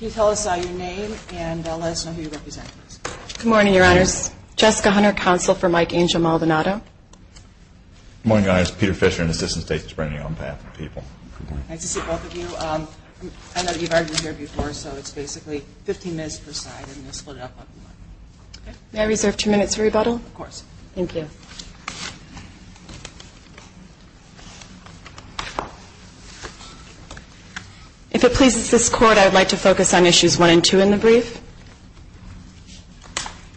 Good morning, your honors. Jessica Hunter, counsel for Mike Angel Maldonado. Good morning, your honors. Peter Fisher, an assistant state attorney on behalf of the people. Nice to see both of you. I know you've argued here before, so it's basically 15 minutes per side. Thank you. If it pleases this court, I would like to focus on issues one and two in the brief.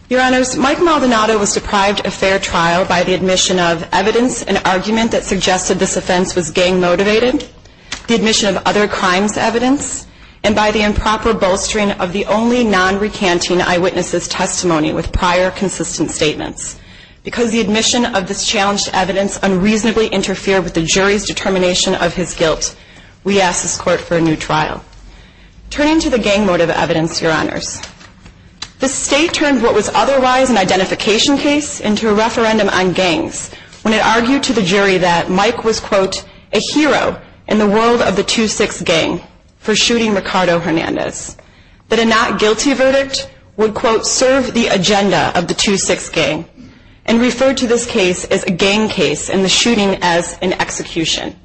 Your honors, Mike Maldonado was deprived of fair trial by the admission of evidence and argument that suggested this offense was gang-motivated, the admission of other crimes evidence, and by the improper bolstering of the only non-recanting eyewitness' testimony with prior consistent statements. Because the admission of this challenged evidence unreasonably interfered with the jury's determination of his guilt, we ask this court for a new trial. Turning to the gang-motivated evidence, your honors, the state turned what was otherwise an identification case into a referendum on gangs when it argued to the jury that Mike was, quote, a hero in the world of the 2-6 gang for shooting Ricardo Hernandez, that a not guilty verdict would, quote, serve the agenda of the 2-6 gang, and referred to this case as a gang case and the shooting as an execution.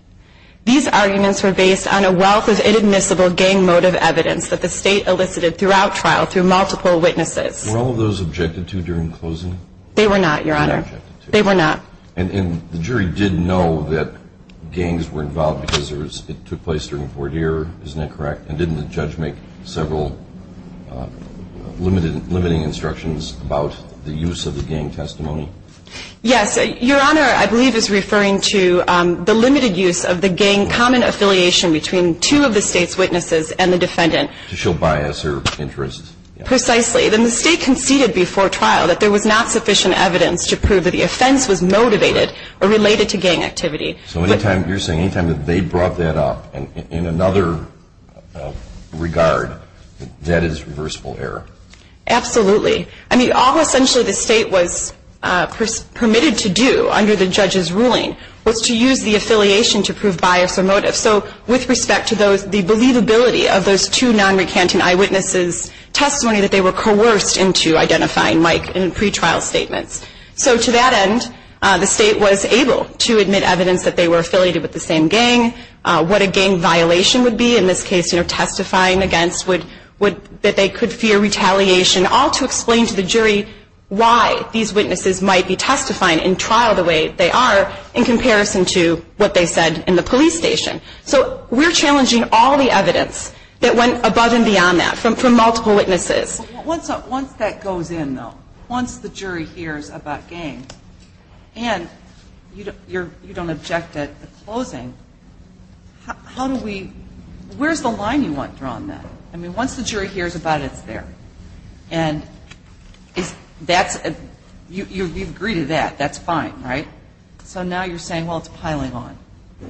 These arguments were based on a wealth of inadmissible gang-motive evidence that the state elicited throughout trial through multiple witnesses. Were all of those objected to during closing? They were not, your honor. They were not. And the jury did know that gangs were involved because it took place during the court year, isn't that correct? And didn't the judge make several limiting instructions about the use of the gang testimony? Yes. Your honor, I believe is referring to the limited use of the gang common affiliation between two of the state's witnesses and the defendant. To show bias or interest. Precisely. The state conceded before trial that there was not sufficient evidence to prove that the offense was motivated or related to gang activity. So any time, you're saying, any time that they brought that up in another regard, that is reversible error? Absolutely. I mean, all essentially the state was permitted to do under the judge's ruling was to use the affiliation to prove bias or motive. So with respect to the believability of those two non-recanting eyewitnesses' testimony that they were coerced into identifying Mike in pre-trial statements. So to that end, the state was able to admit evidence that they were affiliated with the same gang, what a gang violation would be, in this case, you know, testifying against, that they could fear retaliation, all to explain to the jury why these witnesses might be testifying in trial the way they are in comparison to what they said in the police station. So we're challenging all the evidence that went above and beyond that from multiple witnesses. Once that goes in, though, once the jury hears about gang, and you don't object at the closing, how do we, where's the line you want drawn then? I mean, once the jury hears about it, it's there. And that's, you agree to that, that's fine, right? So now you're saying, well, it's piling on.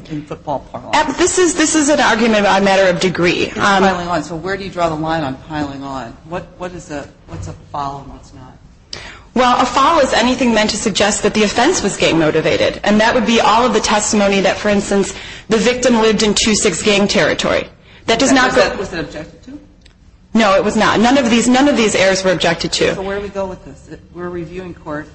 Can football pile on? This is an argument on a matter of degree. It's piling on. So where do you draw the line on piling on? What's a foul and what's not? Well, a foul is anything meant to suggest that the offense was gang motivated. And that would be all of the testimony that, for instance, the victim lived in two, six gang territory. That does not go up. Was that objected to? No, it was not. None of these errors were objected to. So where do we go with this? We're a reviewing court.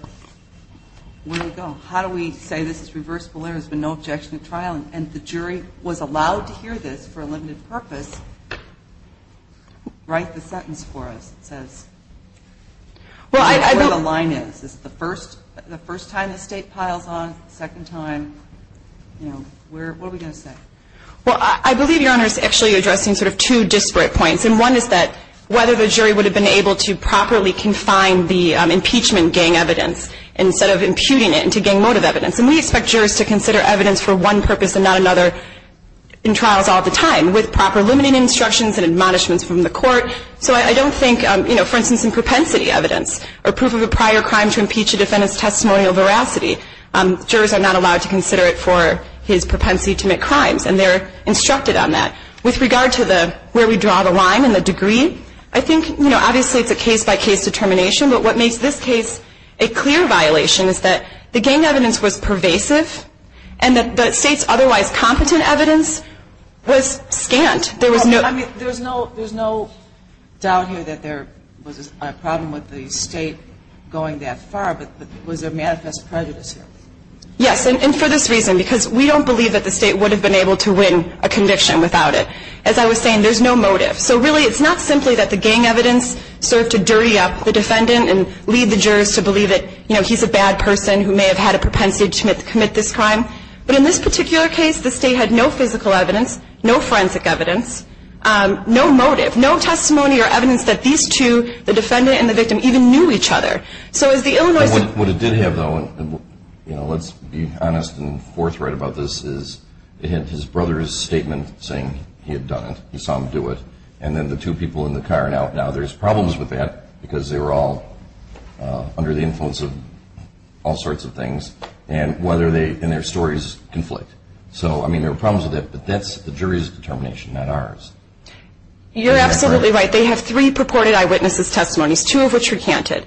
Where do we go? How do we say this is reversible error, there's been no objection at trial, and the jury was allowed to hear this for a limited purpose? Write the sentence for us. It says where the line is. Is it the first time the State piles on, second time, you know, what are we going to say? Well, I believe Your Honor is actually addressing sort of two disparate points, and one is that whether the jury would have been able to properly confine the impeachment gang evidence instead of imputing it into gang motive evidence. And we expect jurors to consider evidence for one purpose and not another in trials all the time with proper limiting instructions and admonishments from the court. So I don't think, you know, for instance, in propensity evidence, or proof of a prior crime to impeach a defendant's testimonial veracity, jurors are not allowed to consider it for his propensity to commit crimes, and they're instructed on that. With regard to where we draw the line and the degree, I think, you know, obviously it's a case-by-case determination. But what makes this case a clear violation is that the gang evidence was pervasive and that the State's otherwise competent evidence was scant. There was no – I mean, there's no doubt here that there was a problem with the State going that far, but was there manifest prejudice here? Yes, and for this reason, because we don't believe that the State would have been able to win a conviction without it. As I was saying, there's no motive. So really it's not simply that the gang evidence served to dirty up the defendant and lead the jurors to believe that, you know, he's a bad person who may have had a propensity to commit this crime. But in this particular case, the State had no physical evidence, no forensic evidence, no motive, no testimony or evidence that these two, the defendant and the victim, even knew each other. So as the Illinois – What it did have, though, and, you know, let's be honest and forthright about this, is it had his brother's statement saying he had done it, he saw him do it, and then the two people in the car. Now there's problems with that because they were all under the influence of all sorts of things, and whether they – and their stories conflict. So, I mean, there were problems with that, but that's the jury's determination, not ours. You're absolutely right. They have three purported eyewitnesses' testimonies, two of which recanted.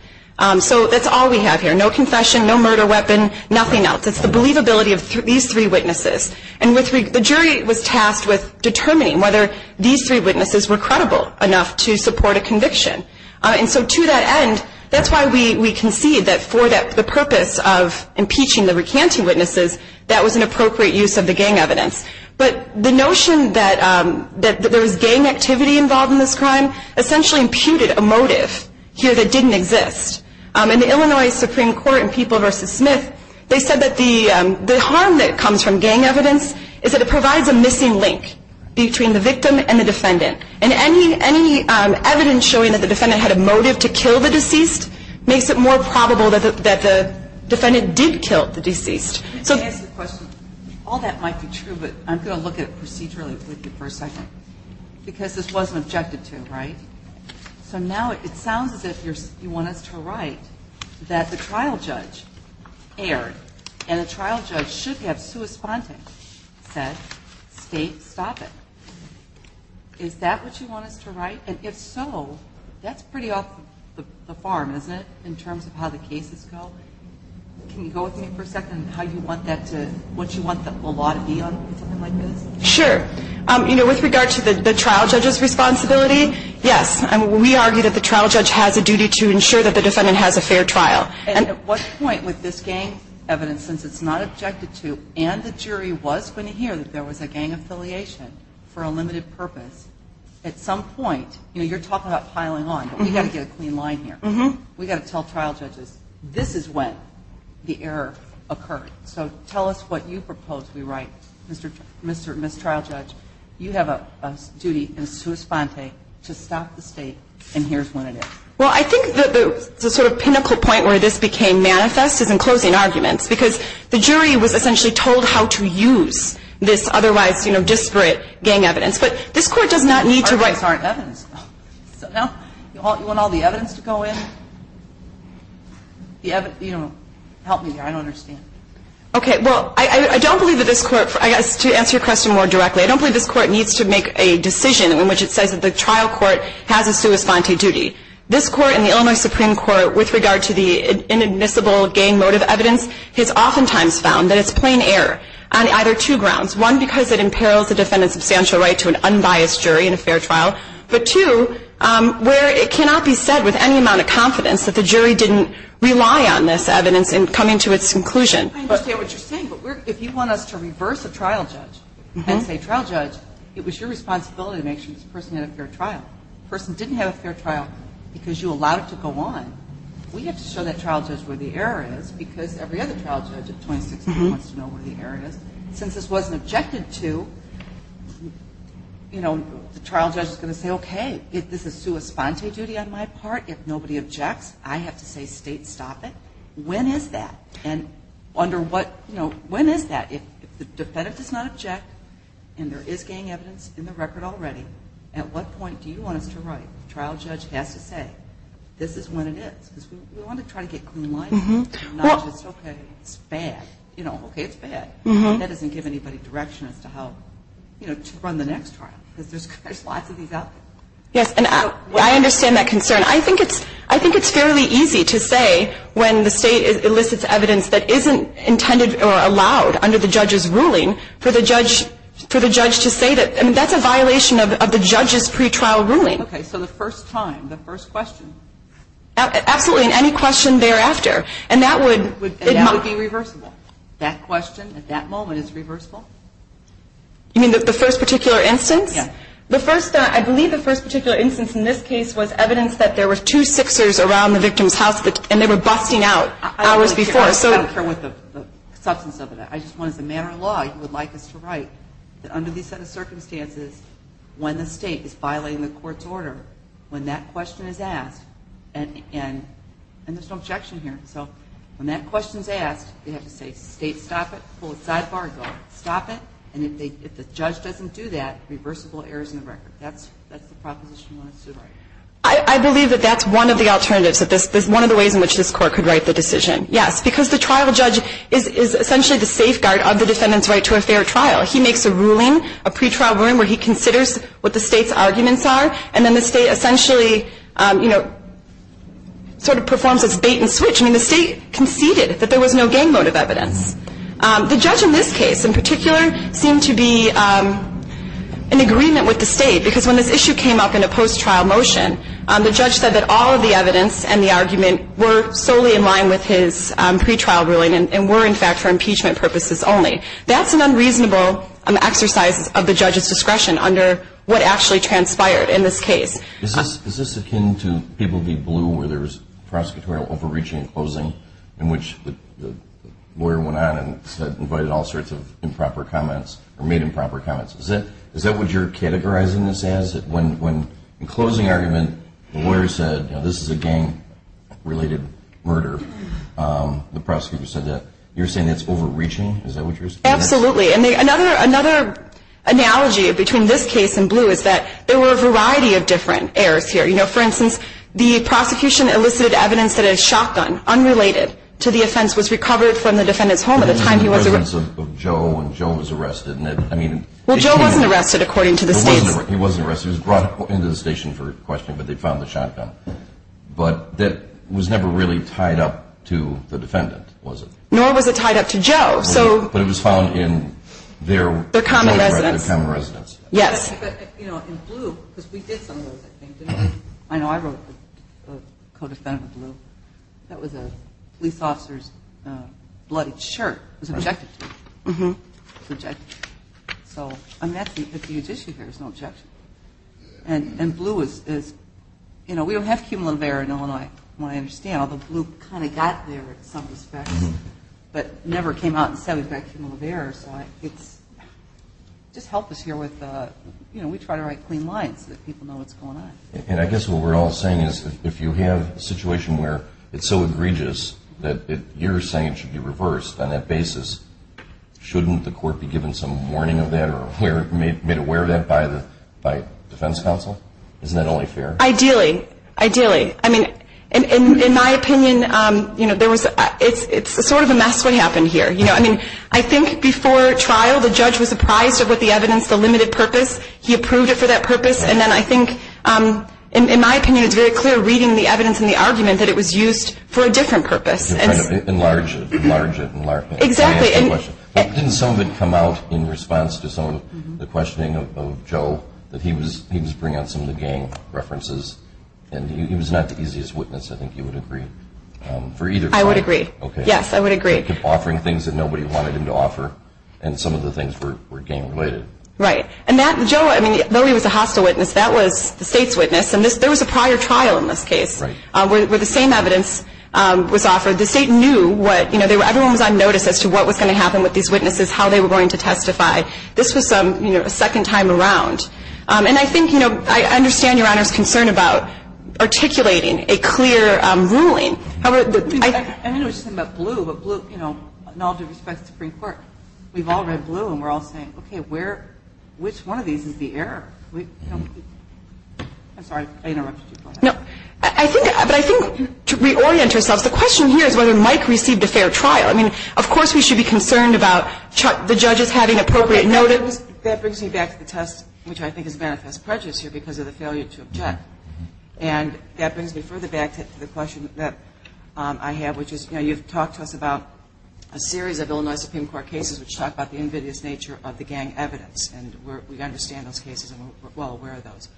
So that's all we have here. No confession, no murder weapon, nothing else. It's the believability of these three witnesses. And the jury was tasked with determining whether these three witnesses were credible enough to support a conviction. And so to that end, that's why we concede that for the purpose of impeaching the recanting witnesses, that was an appropriate use of the gang evidence. But the notion that there was gang activity involved in this crime essentially imputed a motive here that didn't exist. In the Illinois Supreme Court in People v. Smith, they said that the harm that comes from gang evidence is that it provides a missing link between the victim and the defendant. And any evidence showing that the defendant had a motive to kill the deceased Let me ask you a question. All that might be true, but I'm going to look at it procedurally with you for a second. Because this wasn't objected to, right? So now it sounds as if you want us to write that the trial judge erred and the trial judge should have sua sponte, said, state, stop it. Is that what you want us to write? And if so, that's pretty off the farm, isn't it, in terms of how the cases go? Can you go with me for a second on what you want the law to be on something like this? Sure. You know, with regard to the trial judge's responsibility, yes. We argue that the trial judge has a duty to ensure that the defendant has a fair trial. And at what point would this gang evidence, since it's not objected to, and the jury was going to hear that there was a gang affiliation for a limited purpose, at some point, you know, you're talking about piling on, but we've got to get a clean line here. We've got to tell trial judges this is when the error occurred. So tell us what you propose we write. Ms. Trial Judge, you have a duty in sua sponte to stop the state, and here's when it is. Well, I think the sort of pinnacle point where this became manifest is in closing arguments because the jury was essentially told how to use this otherwise, you know, disparate gang evidence. But this Court does not need to write. Well, you want all the evidence to go in? You know, help me here. I don't understand. Okay. Well, I don't believe that this Court, I guess to answer your question more directly, I don't believe this Court needs to make a decision in which it says that the trial court has a sua sponte duty. This Court and the Illinois Supreme Court, with regard to the inadmissible gang motive evidence, has oftentimes found that it's plain error on either two grounds, one, because it imperils the defendant's substantial right to an unbiased jury in a fair trial, but two, where it cannot be said with any amount of confidence that the jury didn't rely on this evidence in coming to its conclusion. I understand what you're saying. But if you want us to reverse a trial judge and say, trial judge, it was your responsibility to make sure this person had a fair trial. The person didn't have a fair trial because you allowed it to go on. We have to show that trial judge where the error is because every other trial judge of 2016 wants to know where the error is. Since this wasn't objected to, you know, the trial judge is going to say, okay, this is sua sponte duty on my part. If nobody objects, I have to say, state, stop it. When is that? And under what, you know, when is that? If the defendant does not object and there is gang evidence in the record already, at what point do you want us to write, trial judge has to say, this is when it is? Because we want to try to get clean lines. Not just, okay, it's bad. You know, okay, it's bad. That doesn't give anybody direction as to how, you know, to run the next trial. Because there's lots of these out there. Yes, and I understand that concern. I think it's fairly easy to say when the state elicits evidence that isn't intended or allowed under the judge's ruling for the judge to say that. I mean, that's a violation of the judge's pretrial ruling. Okay, so the first time, the first question. Absolutely, and any question thereafter. And that would be reversible. That question at that moment is reversible? You mean the first particular instance? Yes. The first, I believe the first particular instance in this case was evidence that there were two Sixers around the victim's house, and they were busting out hours before. I don't care what the substance of it is. I just want, as a matter of law, you would like us to write that under these circumstances, when the state is violating the court's order, when that question is asked. And there's no objection here. So when that question is asked, you have to say, state, stop it. Pull the sidebar and go, stop it. And if the judge doesn't do that, reversible errors in the record. That's the proposition you want us to write. I believe that that's one of the alternatives, one of the ways in which this court could write the decision. Yes, because the trial judge is essentially the safeguard of the defendant's right to a fair trial. He makes a ruling, a pretrial ruling, where he considers what the state's arguments are, and then the state essentially, you know, sort of performs its bait and switch. I mean the state conceded that there was no gang motive evidence. The judge in this case in particular seemed to be in agreement with the state because when this issue came up in a post-trial motion, the judge said that all of the evidence and the argument were solely in line with his pretrial ruling and were, in fact, for impeachment purposes only. That's an unreasonable exercise of the judge's discretion under what actually transpired in this case. Is this akin to People v. Blue where there was prosecutorial overreaching in closing in which the lawyer went on and invited all sorts of improper comments or made improper comments? Is that what you're categorizing this as? When in closing argument the lawyer said, you know, this is a gang-related murder, the prosecutor said that, you're saying that's overreaching? Is that what you're saying? Absolutely. And another analogy between this case and Blue is that there were a variety of different errors here. You know, for instance, the prosecution elicited evidence that a shotgun, unrelated to the offense, was recovered from the defendant's home at the time he was arrested. It was in the presence of Joe, and Joe was arrested. Well, Joe wasn't arrested according to the states. He wasn't arrested. He was brought into the station for questioning, but they found the shotgun. But that was never really tied up to the defendant, was it? Nor was it tied up to Joe, so. But it was found in their. Their common residence. Their common residence. Yes. But, you know, in Blue, because we did some of those, I think, didn't we? I know I wrote a codefendant in Blue. That was a police officer's bloodied shirt. It was objected to. It was objected to. So, I mean, that's a huge issue here is no objection. And Blue is, you know, we don't have cumulative error in Illinois, from what I understand, although Blue kind of got there in some respects, but never came out and said we've got cumulative error. So it's just helped us here with, you know, we try to write clean lines so that people know what's going on. And I guess what we're all saying is if you have a situation where it's so egregious that you're saying it should be reversed on that basis, shouldn't the court be given some warning of that or made aware of that by defense counsel? Isn't that only fair? Ideally. Ideally. I mean, in my opinion, you know, it's sort of a mess what happened here. You know, I mean, I think before trial the judge was surprised at what the evidence, the limited purpose. He approved it for that purpose. And then I think, in my opinion, it's very clear reading the evidence and the argument that it was used for a different purpose. Enlarge it. Enlarge it. Exactly. Didn't some of it come out in response to some of the questioning of Joe that he was bringing out some of the gang references? And he was not the easiest witness, I think you would agree, for either. I would agree. Yes, I would agree. Offering things that nobody wanted him to offer and some of the things were gang related. Right. And that, Joe, I mean, though he was a hostile witness, that was the state's witness. And there was a prior trial in this case where the same evidence was offered. The state knew what, you know, everyone was on notice as to what was going to happen with these witnesses, how they were going to testify. This was, you know, a second time around. And I think, you know, I understand Your Honor's concern about articulating a clear ruling. I know you're talking about Blue, but Blue, you know, in all due respect to the Supreme Court, we've all read Blue and we're all saying, okay, which one of these is the error? I'm sorry, I interrupted you. Go ahead. I think, but I think to reorient ourselves, the question here is whether Mike received a fair trial. I mean, of course we should be concerned about the judges having appropriate notice. That brings me back to the test, which I think is manifest prejudice here because of the failure to object. And that brings me further back to the question that I have, which is, you know, you've talked to us about a series of Illinois Supreme Court cases which talk about the invidious nature of the gang evidence. And we understand those cases and we're well aware of those.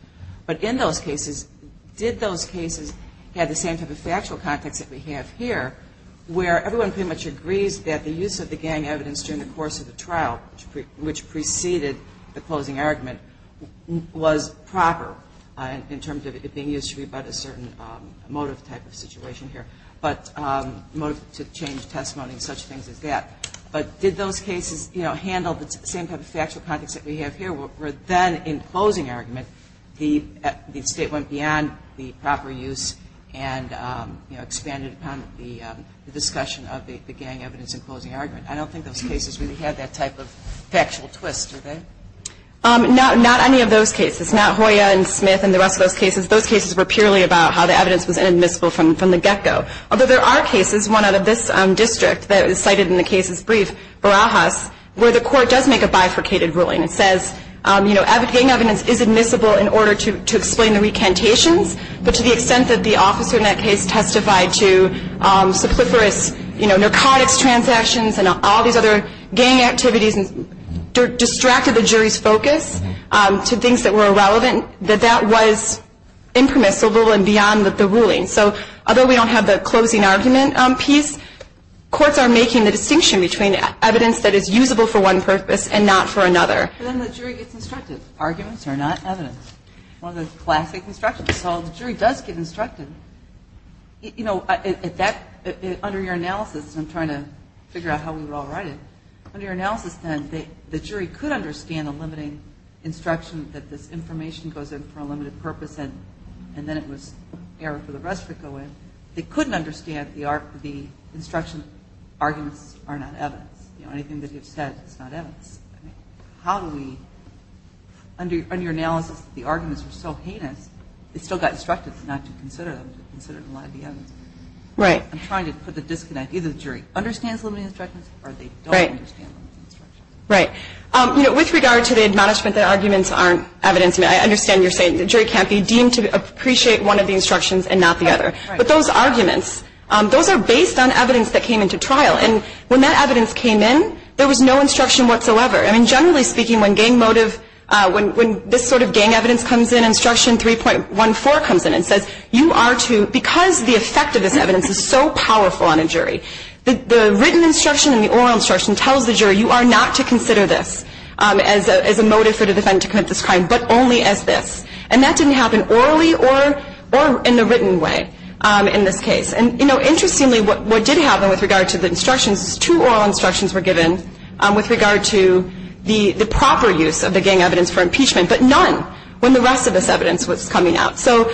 But in those cases, did those cases have the same type of factual context that we have here, where everyone pretty much agrees that the use of the gang evidence during the course of the trial, which preceded the closing argument, was proper in terms of it being used to rebut a certain motive type of situation here, but motive to change testimony and such things as that. But did those cases, you know, handle the same type of factual context that we have here, where then in closing argument the State went beyond the proper use and expanded upon the discussion of the gang evidence in closing argument? I don't think those cases really had that type of factual twist, do they? Not any of those cases. Not Hoya and Smith and the rest of those cases. Those cases were purely about how the evidence was inadmissible from the get-go. Although there are cases, one out of this district that is cited in the case's brief, Barajas, where the court does make a bifurcated ruling. It says, you know, gang evidence is admissible in order to explain the recantations, but to the extent that the officer in that case testified to superfluous narcotics transactions and all these other gang activities and distracted the jury's focus to things that were irrelevant, that that was impermissible and beyond the ruling. So although we don't have the closing argument piece, courts are making the distinction between evidence that is usable for one purpose and not for another. But then the jury gets instructed. Arguments are not evidence. One of the classic instructions. So the jury does get instructed. You know, under your analysis, and I'm trying to figure out how we would all write it, under your analysis then the jury could understand the limiting instruction that this information goes in for a limited purpose and then it was error for the rest to go in. They couldn't understand the instruction that arguments are not evidence. You know, anything that you've said is not evidence. How do we, under your analysis, the arguments were so heinous, they still got instructed not to consider them, to consider them to be evidence. Right. I'm trying to put the disconnect. Either the jury understands limiting instructions or they don't understand limiting instructions. Right. You know, with regard to the admonishment that arguments aren't evidence, I understand you're saying the jury can't be deemed to appreciate one of the instructions and not the other. Right. But those arguments, those are based on evidence that came into trial. And when that evidence came in, there was no instruction whatsoever. I mean, generally speaking, when gang motive, when this sort of gang evidence comes in, instruction 3.14 comes in and says you are to, because the effect of this evidence is so powerful on a jury, the written instruction and the oral instruction tells the jury you are not to consider this as a motive for the defendant to commit this crime, but only as this. And that didn't happen orally or in the written way in this case. And, you know, interestingly, what did happen with regard to the instructions is two oral instructions were given with regard to the proper use of the gang evidence for impeachment, but none when the rest of this evidence was coming out. So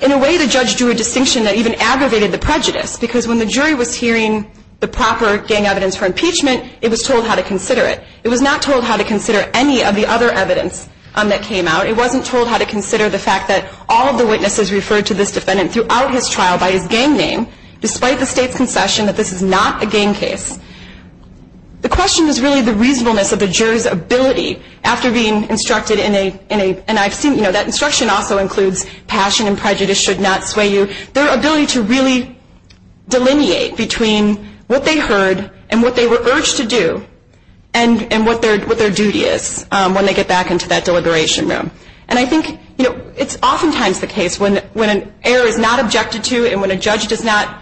in a way, the judge drew a distinction that even aggravated the prejudice, because when the jury was hearing the proper gang evidence for impeachment, it was told how to consider it. It was not told how to consider any of the other evidence that came out. It wasn't told how to consider the fact that all of the witnesses referred to this defendant throughout his trial by his gang name, despite the State's concession that this is not a gang case. The question is really the reasonableness of the jury's ability after being instructed in a, and I've seen, you know, that instruction also includes passion and prejudice should not sway you, their ability to really delineate between what they heard and what they were urged to do and what their duty is when they get back into that deliberation room. And I think, you know, it's oftentimes the case when an error is not objected to and when a judge does not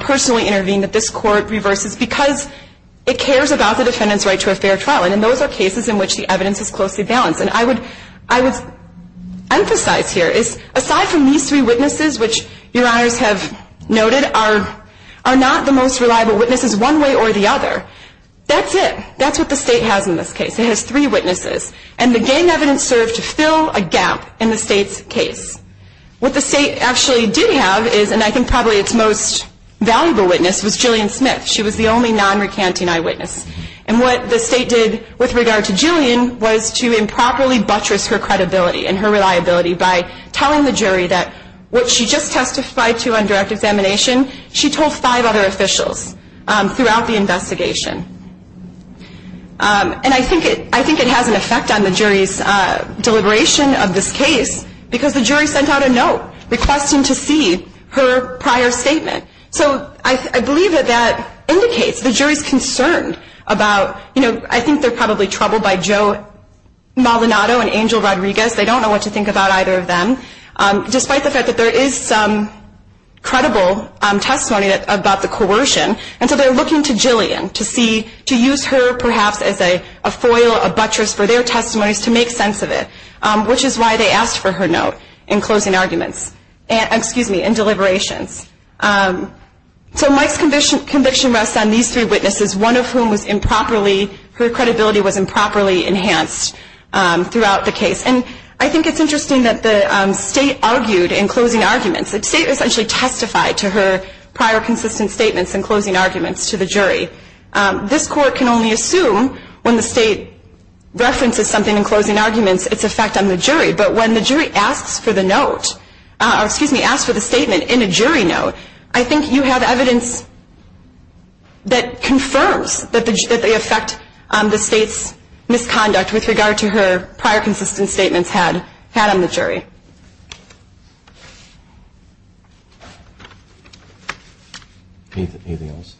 personally intervene that this court reverses because it cares about the defendant's right to a fair trial. And those are cases in which the evidence is closely balanced. And I would emphasize here is aside from these three witnesses, which Your Honors have noted are not the most reliable witnesses one way or the other, that's it. That's what the State has in this case. It has three witnesses. And the gang evidence served to fill a gap in the State's case. What the State actually did have is, and I think probably its most valuable witness, was Jillian Smith. She was the only non-recanting eyewitness. And what the State did with regard to Jillian was to improperly buttress her credibility and her reliability by telling the jury that what she just testified to on direct examination, she told five other officials throughout the investigation. And I think it has an effect on the jury's deliberation of this case because the jury sent out a note requesting to see her prior statement. So I believe that that indicates the jury's concerned about, you know, I think they're probably troubled by Joe Maldonado and Angel Rodriguez. They don't know what to think about either of them. Despite the fact that there is some credible testimony about the coercion, and so they're looking to Jillian to see, to use her perhaps as a foil, a buttress for their testimonies to make sense of it, which is why they asked for her note in closing arguments, excuse me, in deliberations. So Mike's conviction rests on these three witnesses, one of whom was improperly, her credibility was improperly enhanced throughout the case. And I think it's interesting that the state argued in closing arguments. The state essentially testified to her prior consistent statements in closing arguments to the jury. This court can only assume when the state references something in closing arguments its effect on the jury. But when the jury asks for the note, or excuse me, asks for the statement in a jury note, I think you have evidence that confirms that they affect the state's misconduct with regard to her prior consistent statements had on the jury. Anything else?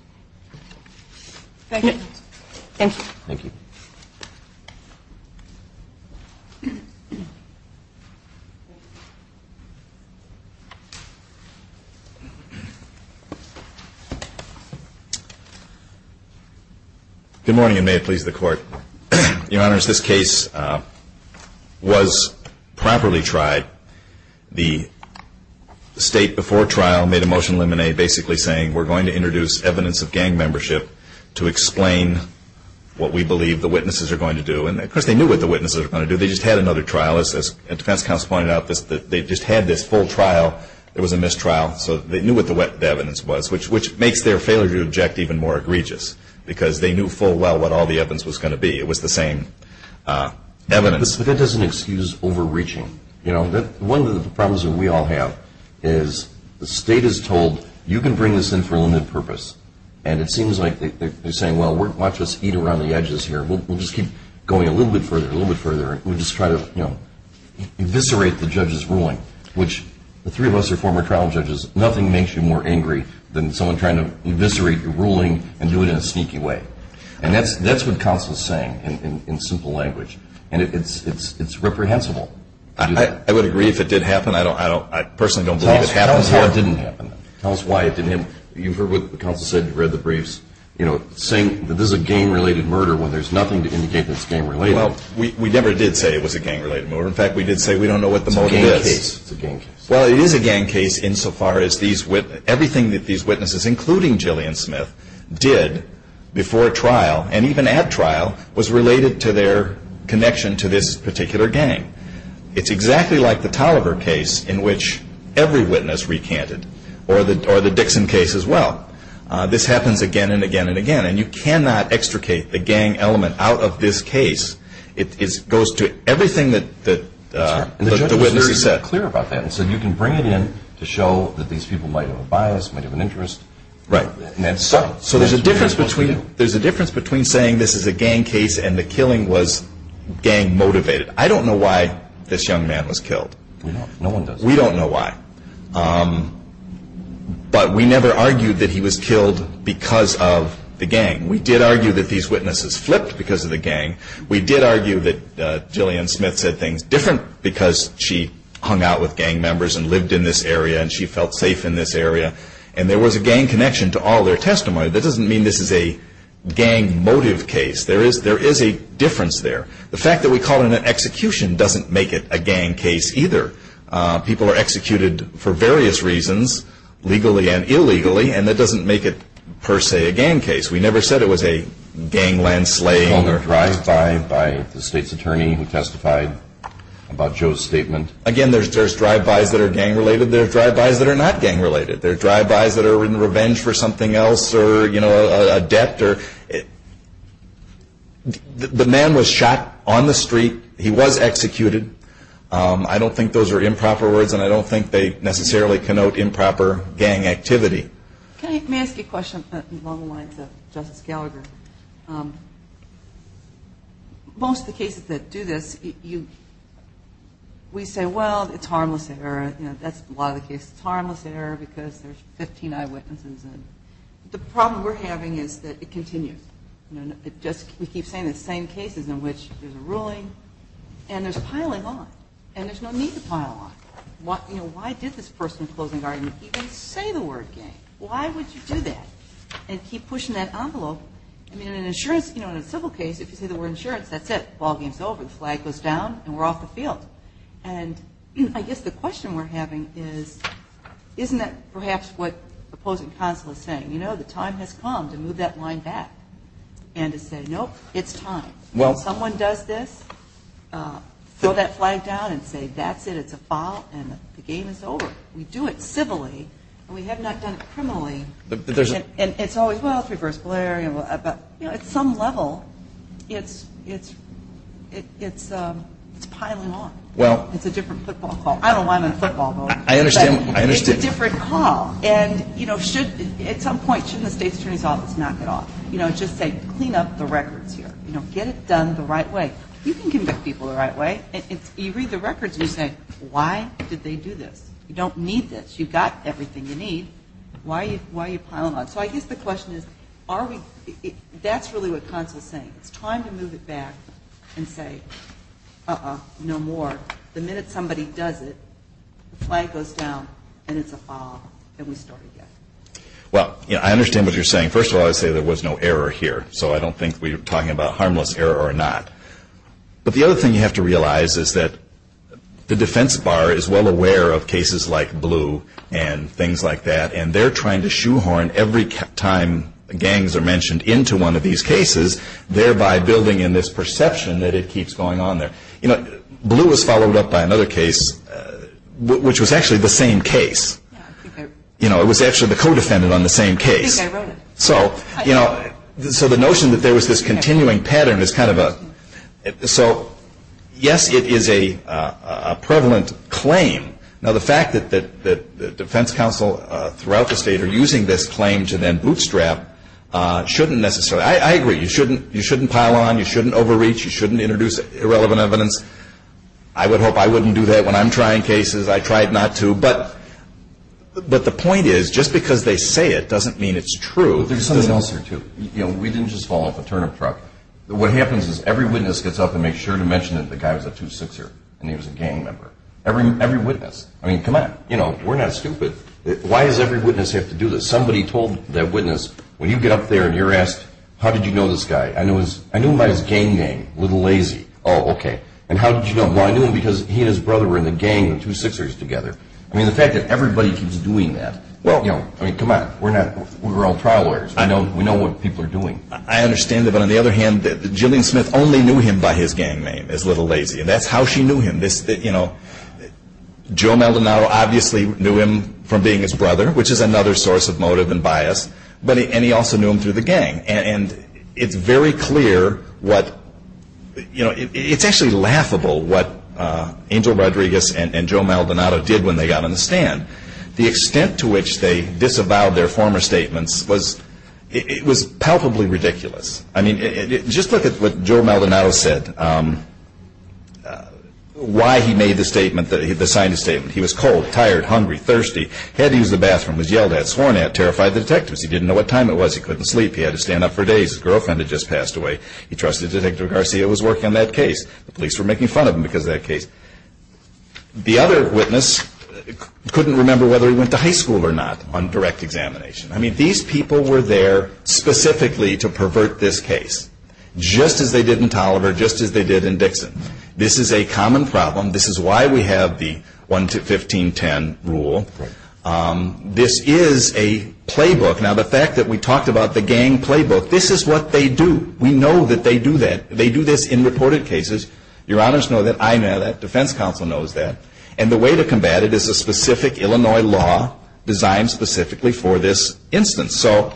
Thank you. Thank you. Thank you. Good morning, and may it please the Court. Your Honors, this case was properly tried. The state before trial made a motion limine basically saying, we're going to introduce evidence of gang membership to explain what we believe the witnesses are going to do. And of course they knew what the witnesses were going to do. They just had another trial. As defense counsel pointed out, they just had this full trial. It was a mistrial, so they knew what the evidence was, which makes their failure to object even more egregious because they knew full well what all the evidence was going to be. It was the same evidence. But that doesn't excuse overreaching. One of the problems that we all have is the state is told, you can bring this in for a limited purpose, and it seems like they're saying, well, watch us eat around the edges here. We'll just keep going a little bit further, a little bit further, and we'll just try to eviscerate the judge's ruling, which the three of us are former trial judges. Nothing makes you more angry than someone trying to eviscerate your ruling and do it in a sneaky way. And that's what counsel is saying in simple language. And it's reprehensible to do that. I would agree if it did happen. I personally don't believe it happened. Tell us how it didn't happen. Tell us why it didn't happen. You've heard what counsel said, you've read the briefs, saying that this is a gang-related murder when there's nothing to indicate that it's gang-related. Well, we never did say it was a gang-related murder. In fact, we did say we don't know what the motive is. It's a gang case. Well, it is a gang case insofar as everything that these witnesses, including Jillian Smith, did before trial and even at trial was related to their connection to this particular gang. It's exactly like the Tolliver case in which every witness recanted, or the Dixon case as well. This happens again and again and again. And you cannot extricate the gang element out of this case. It goes to everything that the witness said. The judge was very clear about that and said you can bring it in to show that these people might have a bias, might have an interest. Right. So there's a difference between saying this is a gang case and the killing was gang-motivated. I don't know why this young man was killed. No one does. We don't know why. But we never argued that he was killed because of the gang. We did argue that these witnesses flipped because of the gang. We did argue that Jillian Smith said things different because she hung out with gang members and lived in this area and she felt safe in this area. And there was a gang connection to all their testimony. That doesn't mean this is a gang-motive case. There is a difference there. The fact that we call it an execution doesn't make it a gang case either. People are executed for various reasons, legally and illegally, and that doesn't make it per se a gang case. We never said it was a gangland slaying. Was there a drive-by by the state's attorney who testified about Joe's statement? Again, there's drive-bys that are gang-related. There are drive-bys that are not gang-related. There are drive-bys that are in revenge for something else or a debt. The man was shot on the street. He was executed. I don't think those are improper words, and I don't think they necessarily connote improper gang activity. Can I ask you a question along the lines of Justice Gallagher? Most of the cases that do this, we say, well, it's harmless. That's a lot of the cases. It's harmless error because there's 15 eyewitnesses. The problem we're having is that it continues. We keep saying the same cases in which there's a ruling, and there's piling on, and there's no need to pile on. Why did this person in the closing argument even say the word gang? Why would you do that and keep pushing that envelope? In an insurance, in a civil case, if you say the word insurance, that's it. The ball game is over. The flag goes down, and we're off the field. And I guess the question we're having is, isn't that perhaps what the opposing counsel is saying? You know, the time has come to move that line back and to say, nope, it's time. When someone does this, throw that flag down and say, that's it, it's a foul, and the game is over. We do it civilly, and we have not done it criminally. And it's always, well, it's reversible error. But, you know, at some level, it's piling on. It's a different football call. I don't know why I'm in football, though. It's a different call. And, you know, at some point, shouldn't the State's Attorney's Office knock it off? You know, just say, clean up the records here. You know, get it done the right way. You can convict people the right way. You read the records, and you say, why did they do this? You don't need this. You've got everything you need. Why are you piling on? So I guess the question is, are we – that's really what Consul is saying. It's time to move it back and say, uh-oh, no more. The minute somebody does it, the flag goes down, and it's a foul, and we start again. Well, I understand what you're saying. First of all, I would say there was no error here, so I don't think we're talking about harmless error or not. But the other thing you have to realize is that the defense bar is well aware of cases like Blue and things like that, and they're trying to shoehorn every time gangs are mentioned into one of these cases, thereby building in this perception that it keeps going on there. You know, Blue was followed up by another case, which was actually the same case. You know, it was actually the co-defendant on the same case. So, you know, so the notion that there was this continuing pattern is kind of a – so, yes, it is a prevalent claim. Now, the fact that the defense counsel throughout the state are using this claim to then bootstrap shouldn't necessarily – I agree, you shouldn't pile on, you shouldn't overreach, you shouldn't introduce irrelevant evidence. I would hope I wouldn't do that when I'm trying cases. I try not to. But the point is, just because they say it doesn't mean it's true. There's something else here, too. You know, we didn't just follow up a turnip truck. What happens is every witness gets up and makes sure to mention that the guy was a two-sixer and he was a gang member. Every witness. I mean, come on. You know, we're not stupid. Why does every witness have to do this? Somebody told that witness, when you get up there and you're asked, how did you know this guy? I knew him by his gang name, Little Lazy. Oh, okay. And how did you know him? Well, I knew him because he and his brother were in the gang, the two-sixers together. I mean, the fact that everybody keeps doing that. Well, you know, I mean, come on. We're not – we're all trial lawyers. I know. We know what people are doing. I understand that. But on the other hand, Jillian Smith only knew him by his gang name, as Little Lazy, and that's how she knew him. This – you know, Joe Maldonado obviously knew him from being his brother, which is another source of motive and bias. But – and he also knew him through the gang. And it's very clear what – you know, it's actually laughable what Angel Rodriguez and Joe Maldonado did when they got on the stand. The extent to which they disavowed their former statements was – it was palpably ridiculous. I mean, just look at what Joe Maldonado said, why he made the statement that – he signed the statement. He was cold, tired, hungry, thirsty, had to use the bathroom, was yelled at, sworn at, terrified the detectives. He didn't know what time it was. He couldn't sleep. He had to stand up for days. His girlfriend had just passed away. He trusted Detective Garcia was working on that case. The police were making fun of him because of that case. The other witness couldn't remember whether he went to high school or not on direct examination. I mean, these people were there specifically to pervert this case, just as they did in Tolliver, just as they did in Dixon. This is a common problem. This is why we have the 1-15-10 rule. This is a playbook. Now, the fact that we talked about the gang playbook, this is what they do. We know that they do that. They do this in reported cases. Your Honors know that. I know that. Defense counsel knows that. And the way to combat it is a specific Illinois law designed specifically for this instance. So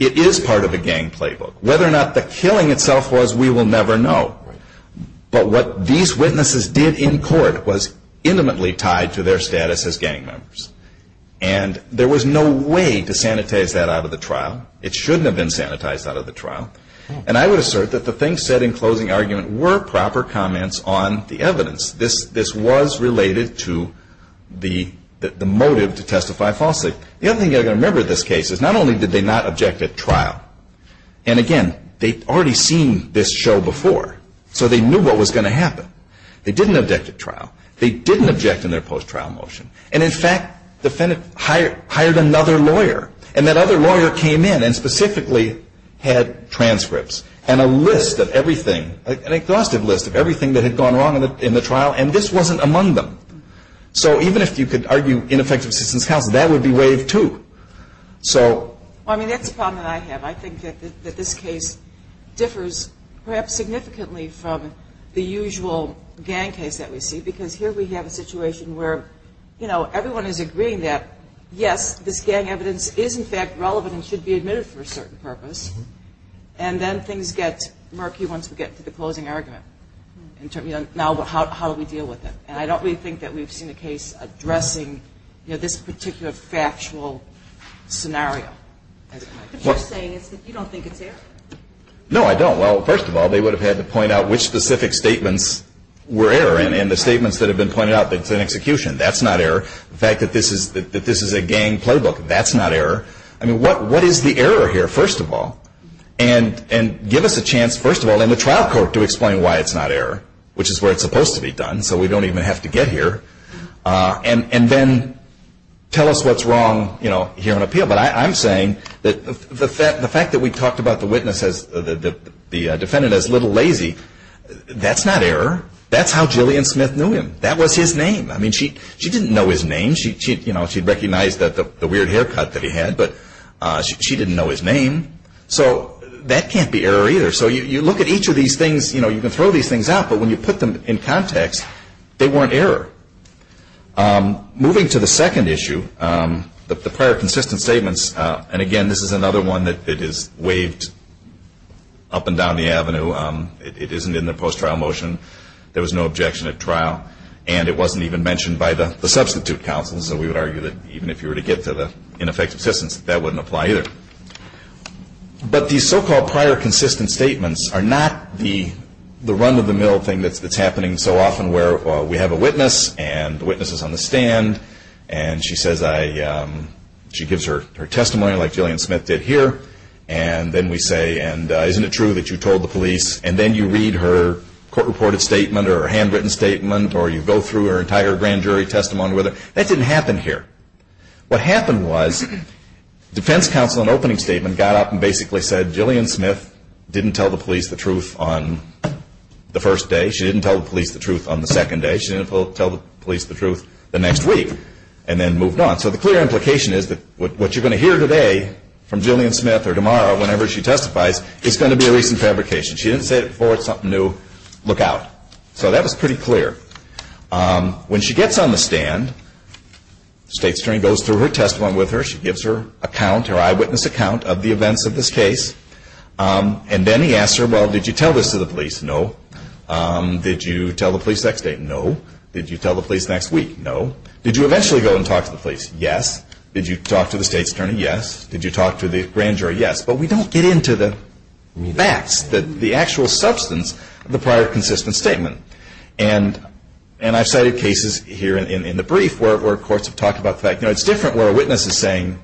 it is part of a gang playbook. Whether or not the killing itself was, we will never know. But what these witnesses did in court was intimately tied to their status as gang members. And there was no way to sanitize that out of the trial. And I would assert that the things said in closing argument were proper comments on the evidence. This was related to the motive to testify falsely. The other thing you've got to remember in this case is not only did they not object at trial, and again, they'd already seen this show before. So they knew what was going to happen. They didn't object at trial. They didn't object in their post-trial motion. And, in fact, the defendant hired another lawyer. And that other lawyer came in and specifically had transcripts and a list of everything, an exhaustive list of everything that had gone wrong in the trial. And this wasn't among them. So even if you could argue ineffective assistance counsel, that would be waived, too. Well, I mean, that's a problem that I have. I think that this case differs perhaps significantly from the usual gang case that we see. Because here we have a situation where, you know, everyone is agreeing that, yes, this gang evidence is, in fact, relevant and should be admitted for a certain purpose. And then things get murky once we get to the closing argument. Now how do we deal with it? And I don't really think that we've seen a case addressing, you know, this particular factual scenario. What you're saying is that you don't think it's error? No, I don't. Well, first of all, they would have had to point out which specific statements were error. And the statements that have been pointed out, that it's an execution, that's not error. The fact that this is a gang playbook, that's not error. I mean, what is the error here, first of all? And give us a chance, first of all, in the trial court to explain why it's not error, which is where it's supposed to be done so we don't even have to get here. And then tell us what's wrong, you know, here on appeal. Yeah, but I'm saying that the fact that we talked about the witness as the defendant as little lazy, that's not error. That's how Jillian Smith knew him. That was his name. I mean, she didn't know his name. You know, she recognized the weird haircut that he had, but she didn't know his name. So that can't be error either. So you look at each of these things, you know, you can throw these things out, but when you put them in context, they weren't error. Moving to the second issue, the prior consistent statements, and again this is another one that is waved up and down the avenue. It isn't in the post-trial motion. There was no objection at trial, and it wasn't even mentioned by the substitute counsel, so we would argue that even if you were to get to the ineffective assistance, that that wouldn't apply either. But these so-called prior consistent statements are not the run-of-the-mill thing that's happening so often where we have a witness, and the witness is on the stand, and she gives her testimony like Jillian Smith did here, and then we say, isn't it true that you told the police, and then you read her court-reported statement or her handwritten statement or you go through her entire grand jury testimony with her. That didn't happen here. What happened was defense counsel in an opening statement got up and basically said, Jillian Smith didn't tell the police the truth on the first day. She didn't tell the police the truth on the second day. She didn't tell the police the truth the next week, and then moved on. So the clear implication is that what you're going to hear today from Jillian Smith or tomorrow, whenever she testifies, is going to be a recent fabrication. She didn't say it before, it's something new. Look out. So that was pretty clear. When she gets on the stand, the state attorney goes through her testimony with her. She gives her account, her eyewitness account of the events of this case, and then he asks her, well, did you tell this to the police? No. Did you tell the police next day? No. Did you tell the police next week? No. Did you eventually go and talk to the police? Yes. Did you talk to the state attorney? Yes. Did you talk to the grand jury? Yes. But we don't get into the facts, the actual substance of the prior consistent statement. And I've cited cases here in the brief where courts have talked about the fact, you know, it's different where a witness is saying,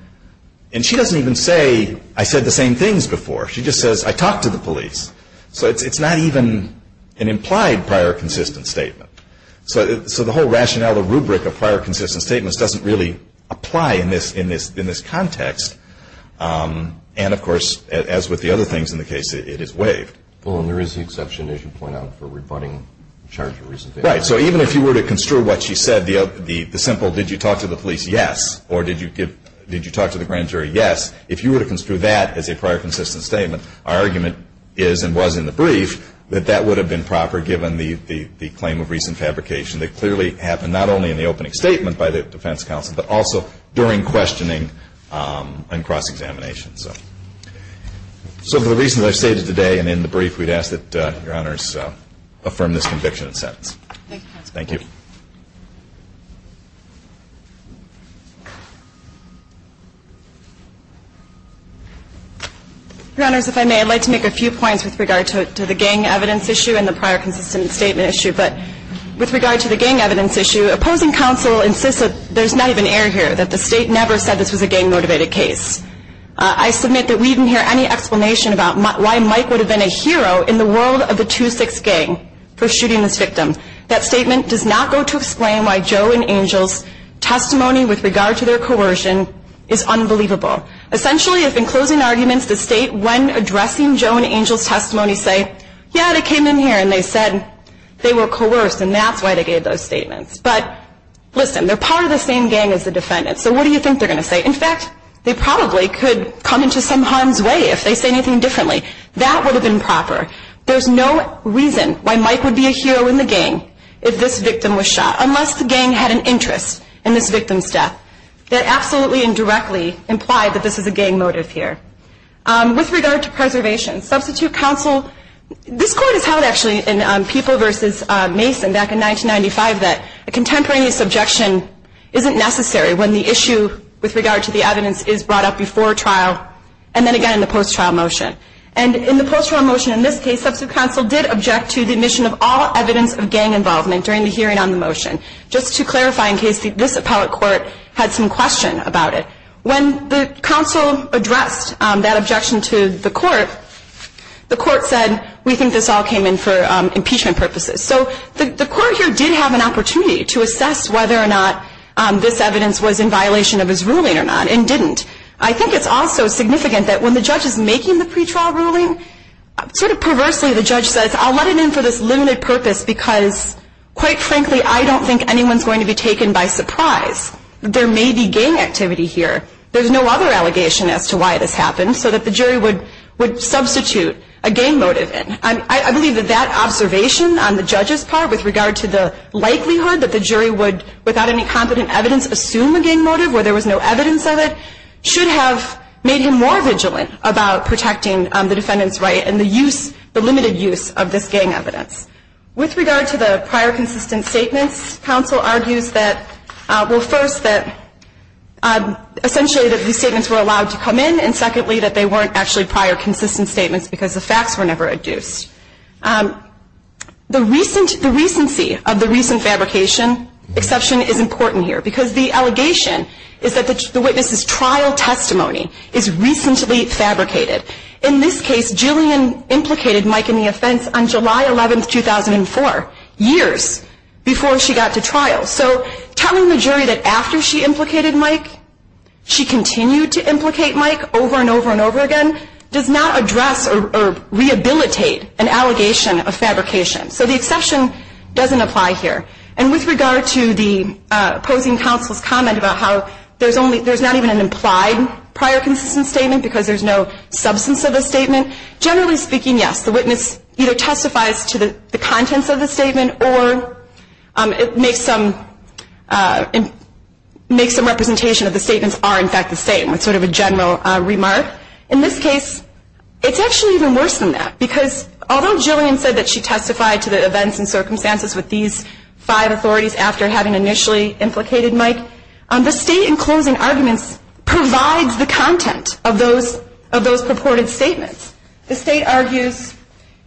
and she doesn't even say, I said the same things before. She just says, I talked to the police. So it's not even an implied prior consistent statement. So the whole rationale, the rubric of prior consistent statements, doesn't really apply in this context. And, of course, as with the other things in the case, it is waived. Well, and there is the exception, as you point out, for rebutting charges. Right. So even if you were to construe what she said, the simple, did you talk to the police? Yes. Or did you talk to the grand jury? Yes. If you were to construe that as a prior consistent statement, our argument is and was in the brief that that would have been proper given the claim of recent fabrication that clearly happened not only in the opening statement by the defense counsel, but also during questioning and cross-examination. So for the reasons I've stated today and in the brief, we'd ask that Your Honors affirm this conviction and sentence. Thank you, counsel. Thank you. Your Honors, if I may, I'd like to make a few points with regard to the gang evidence issue and the prior consistent statement issue. But with regard to the gang evidence issue, opposing counsel insists that there's not even error here, that the State never said this was a gang-motivated case. I submit that we didn't hear any explanation about why Mike would have been a hero in the world of the 2-6 gang for shooting this victim. That statement does not make any sense. It does not go to explain why Joe and Angel's testimony with regard to their coercion is unbelievable. Essentially, if in closing arguments the State, when addressing Joe and Angel's testimony, say, yeah, they came in here and they said they were coerced, and that's why they gave those statements. But listen, they're part of the same gang as the defendants, so what do you think they're going to say? In fact, they probably could come into some harm's way if they say anything differently. That would have been proper. There's no reason why Mike would be a hero in the gang if this victim was shot, unless the gang had an interest in this victim's death. That absolutely and directly implied that this is a gang motive here. With regard to preservation, substitute counsel, this Court has held actually in People v. Mason back in 1995 that a contemporaneous objection isn't necessary when the issue with regard to the evidence is brought up before trial and then again in the post-trial motion. And in the post-trial motion in this case, substitute counsel did object to the admission of all evidence of gang involvement during the hearing on the motion, just to clarify in case this appellate court had some question about it. When the counsel addressed that objection to the court, the court said, we think this all came in for impeachment purposes. So the court here did have an opportunity to assess whether or not this evidence was in violation of his ruling or not, and didn't. I think it's also significant that when the judge is making the pretrial ruling, sort of perversely the judge says, I'll let it in for this limited purpose because quite frankly I don't think anyone's going to be taken by surprise. There may be gang activity here. There's no other allegation as to why this happened, so that the jury would substitute a gang motive in. I believe that that observation on the judge's part with regard to the likelihood that the jury would, without any competent evidence, assume a gang motive where there was no evidence of it, should have made him more vigilant about protecting the defendant's right and the use, the limited use of this gang evidence. With regard to the prior consistent statements, counsel argues that, well, first that essentially that these statements were allowed to come in, and secondly that they weren't actually prior consistent statements because the facts were never adduced. The recency of the recent fabrication exception is important here because the allegation is that the witness's trial testimony is recently fabricated. In this case, Jillian implicated Mike in the offense on July 11, 2004, years before she got to trial. So telling the jury that after she implicated Mike, she continued to implicate Mike over and over and over again, does not address or rehabilitate an allegation of fabrication. So the exception doesn't apply here. And with regard to the opposing counsel's comment about how there's not even an implied prior consistent statement because there's no substance of the statement, generally speaking, yes. The witness either testifies to the contents of the statement or makes some representation of the statements are in fact the same, with sort of a general remark. In this case, it's actually even worse than that because although Jillian said that she testified to the events and circumstances with these five authorities after having initially implicated Mike, the state in closing arguments provides the content of those purported statements. The state argues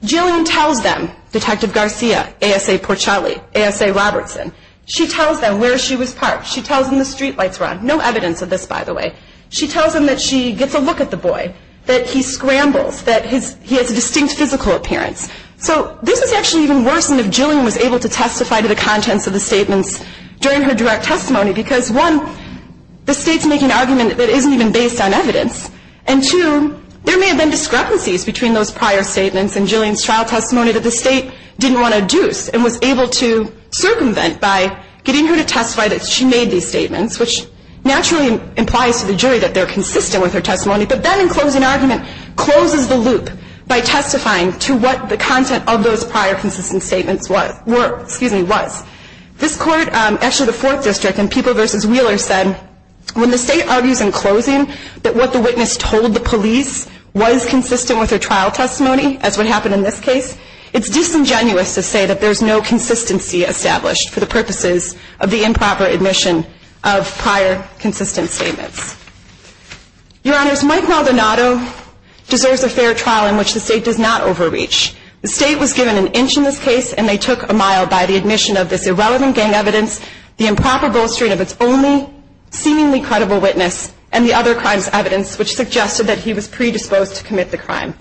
Jillian tells them, Detective Garcia, A.S.A. Porcelli, A.S.A. Robertson, she tells them where she was parked. She tells them the streetlights were on. No evidence of this, by the way. She tells them that she gets a look at the boy, that he scrambles, that he has a distinct physical appearance. So this is actually even worse than if Jillian was able to testify to the contents of the statements during her direct testimony because one, the state's making an argument that isn't even based on evidence, and two, there may have been discrepancies between those prior statements and Jillian's trial testimony that the state didn't want to deuce and was able to circumvent by getting her to testify that she made these statements, which naturally implies to the jury that they're consistent with her testimony. But that in closing argument closes the loop by testifying to what the content of those prior consistent statements were, excuse me, was. This Court, actually the Fourth District in People v. Wheeler said, when the state argues in closing that what the witness told the police was consistent with her trial testimony, as would happen in this case, it's disingenuous to say that there's no consistency established for the purposes of the improper admission of prior consistent statements. Your Honors, Mike Maldonado deserves a fair trial in which the state does not overreach. The state was given an inch in this case, and they took a mile by the admission of this irrelevant gang evidence, the improper bolstering of its only seemingly credible witness, and the other crime's evidence, which suggested that he was predisposed to commit the crime.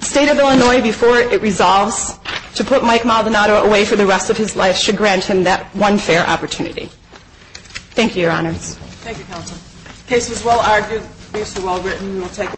The State of Illinois, before it resolves to put Mike Maldonado away for the rest of his life, should grant him that one fair opportunity. Thank you, Your Honors. Thank you, Counsel. The case was well argued. The briefs were well written. We will take...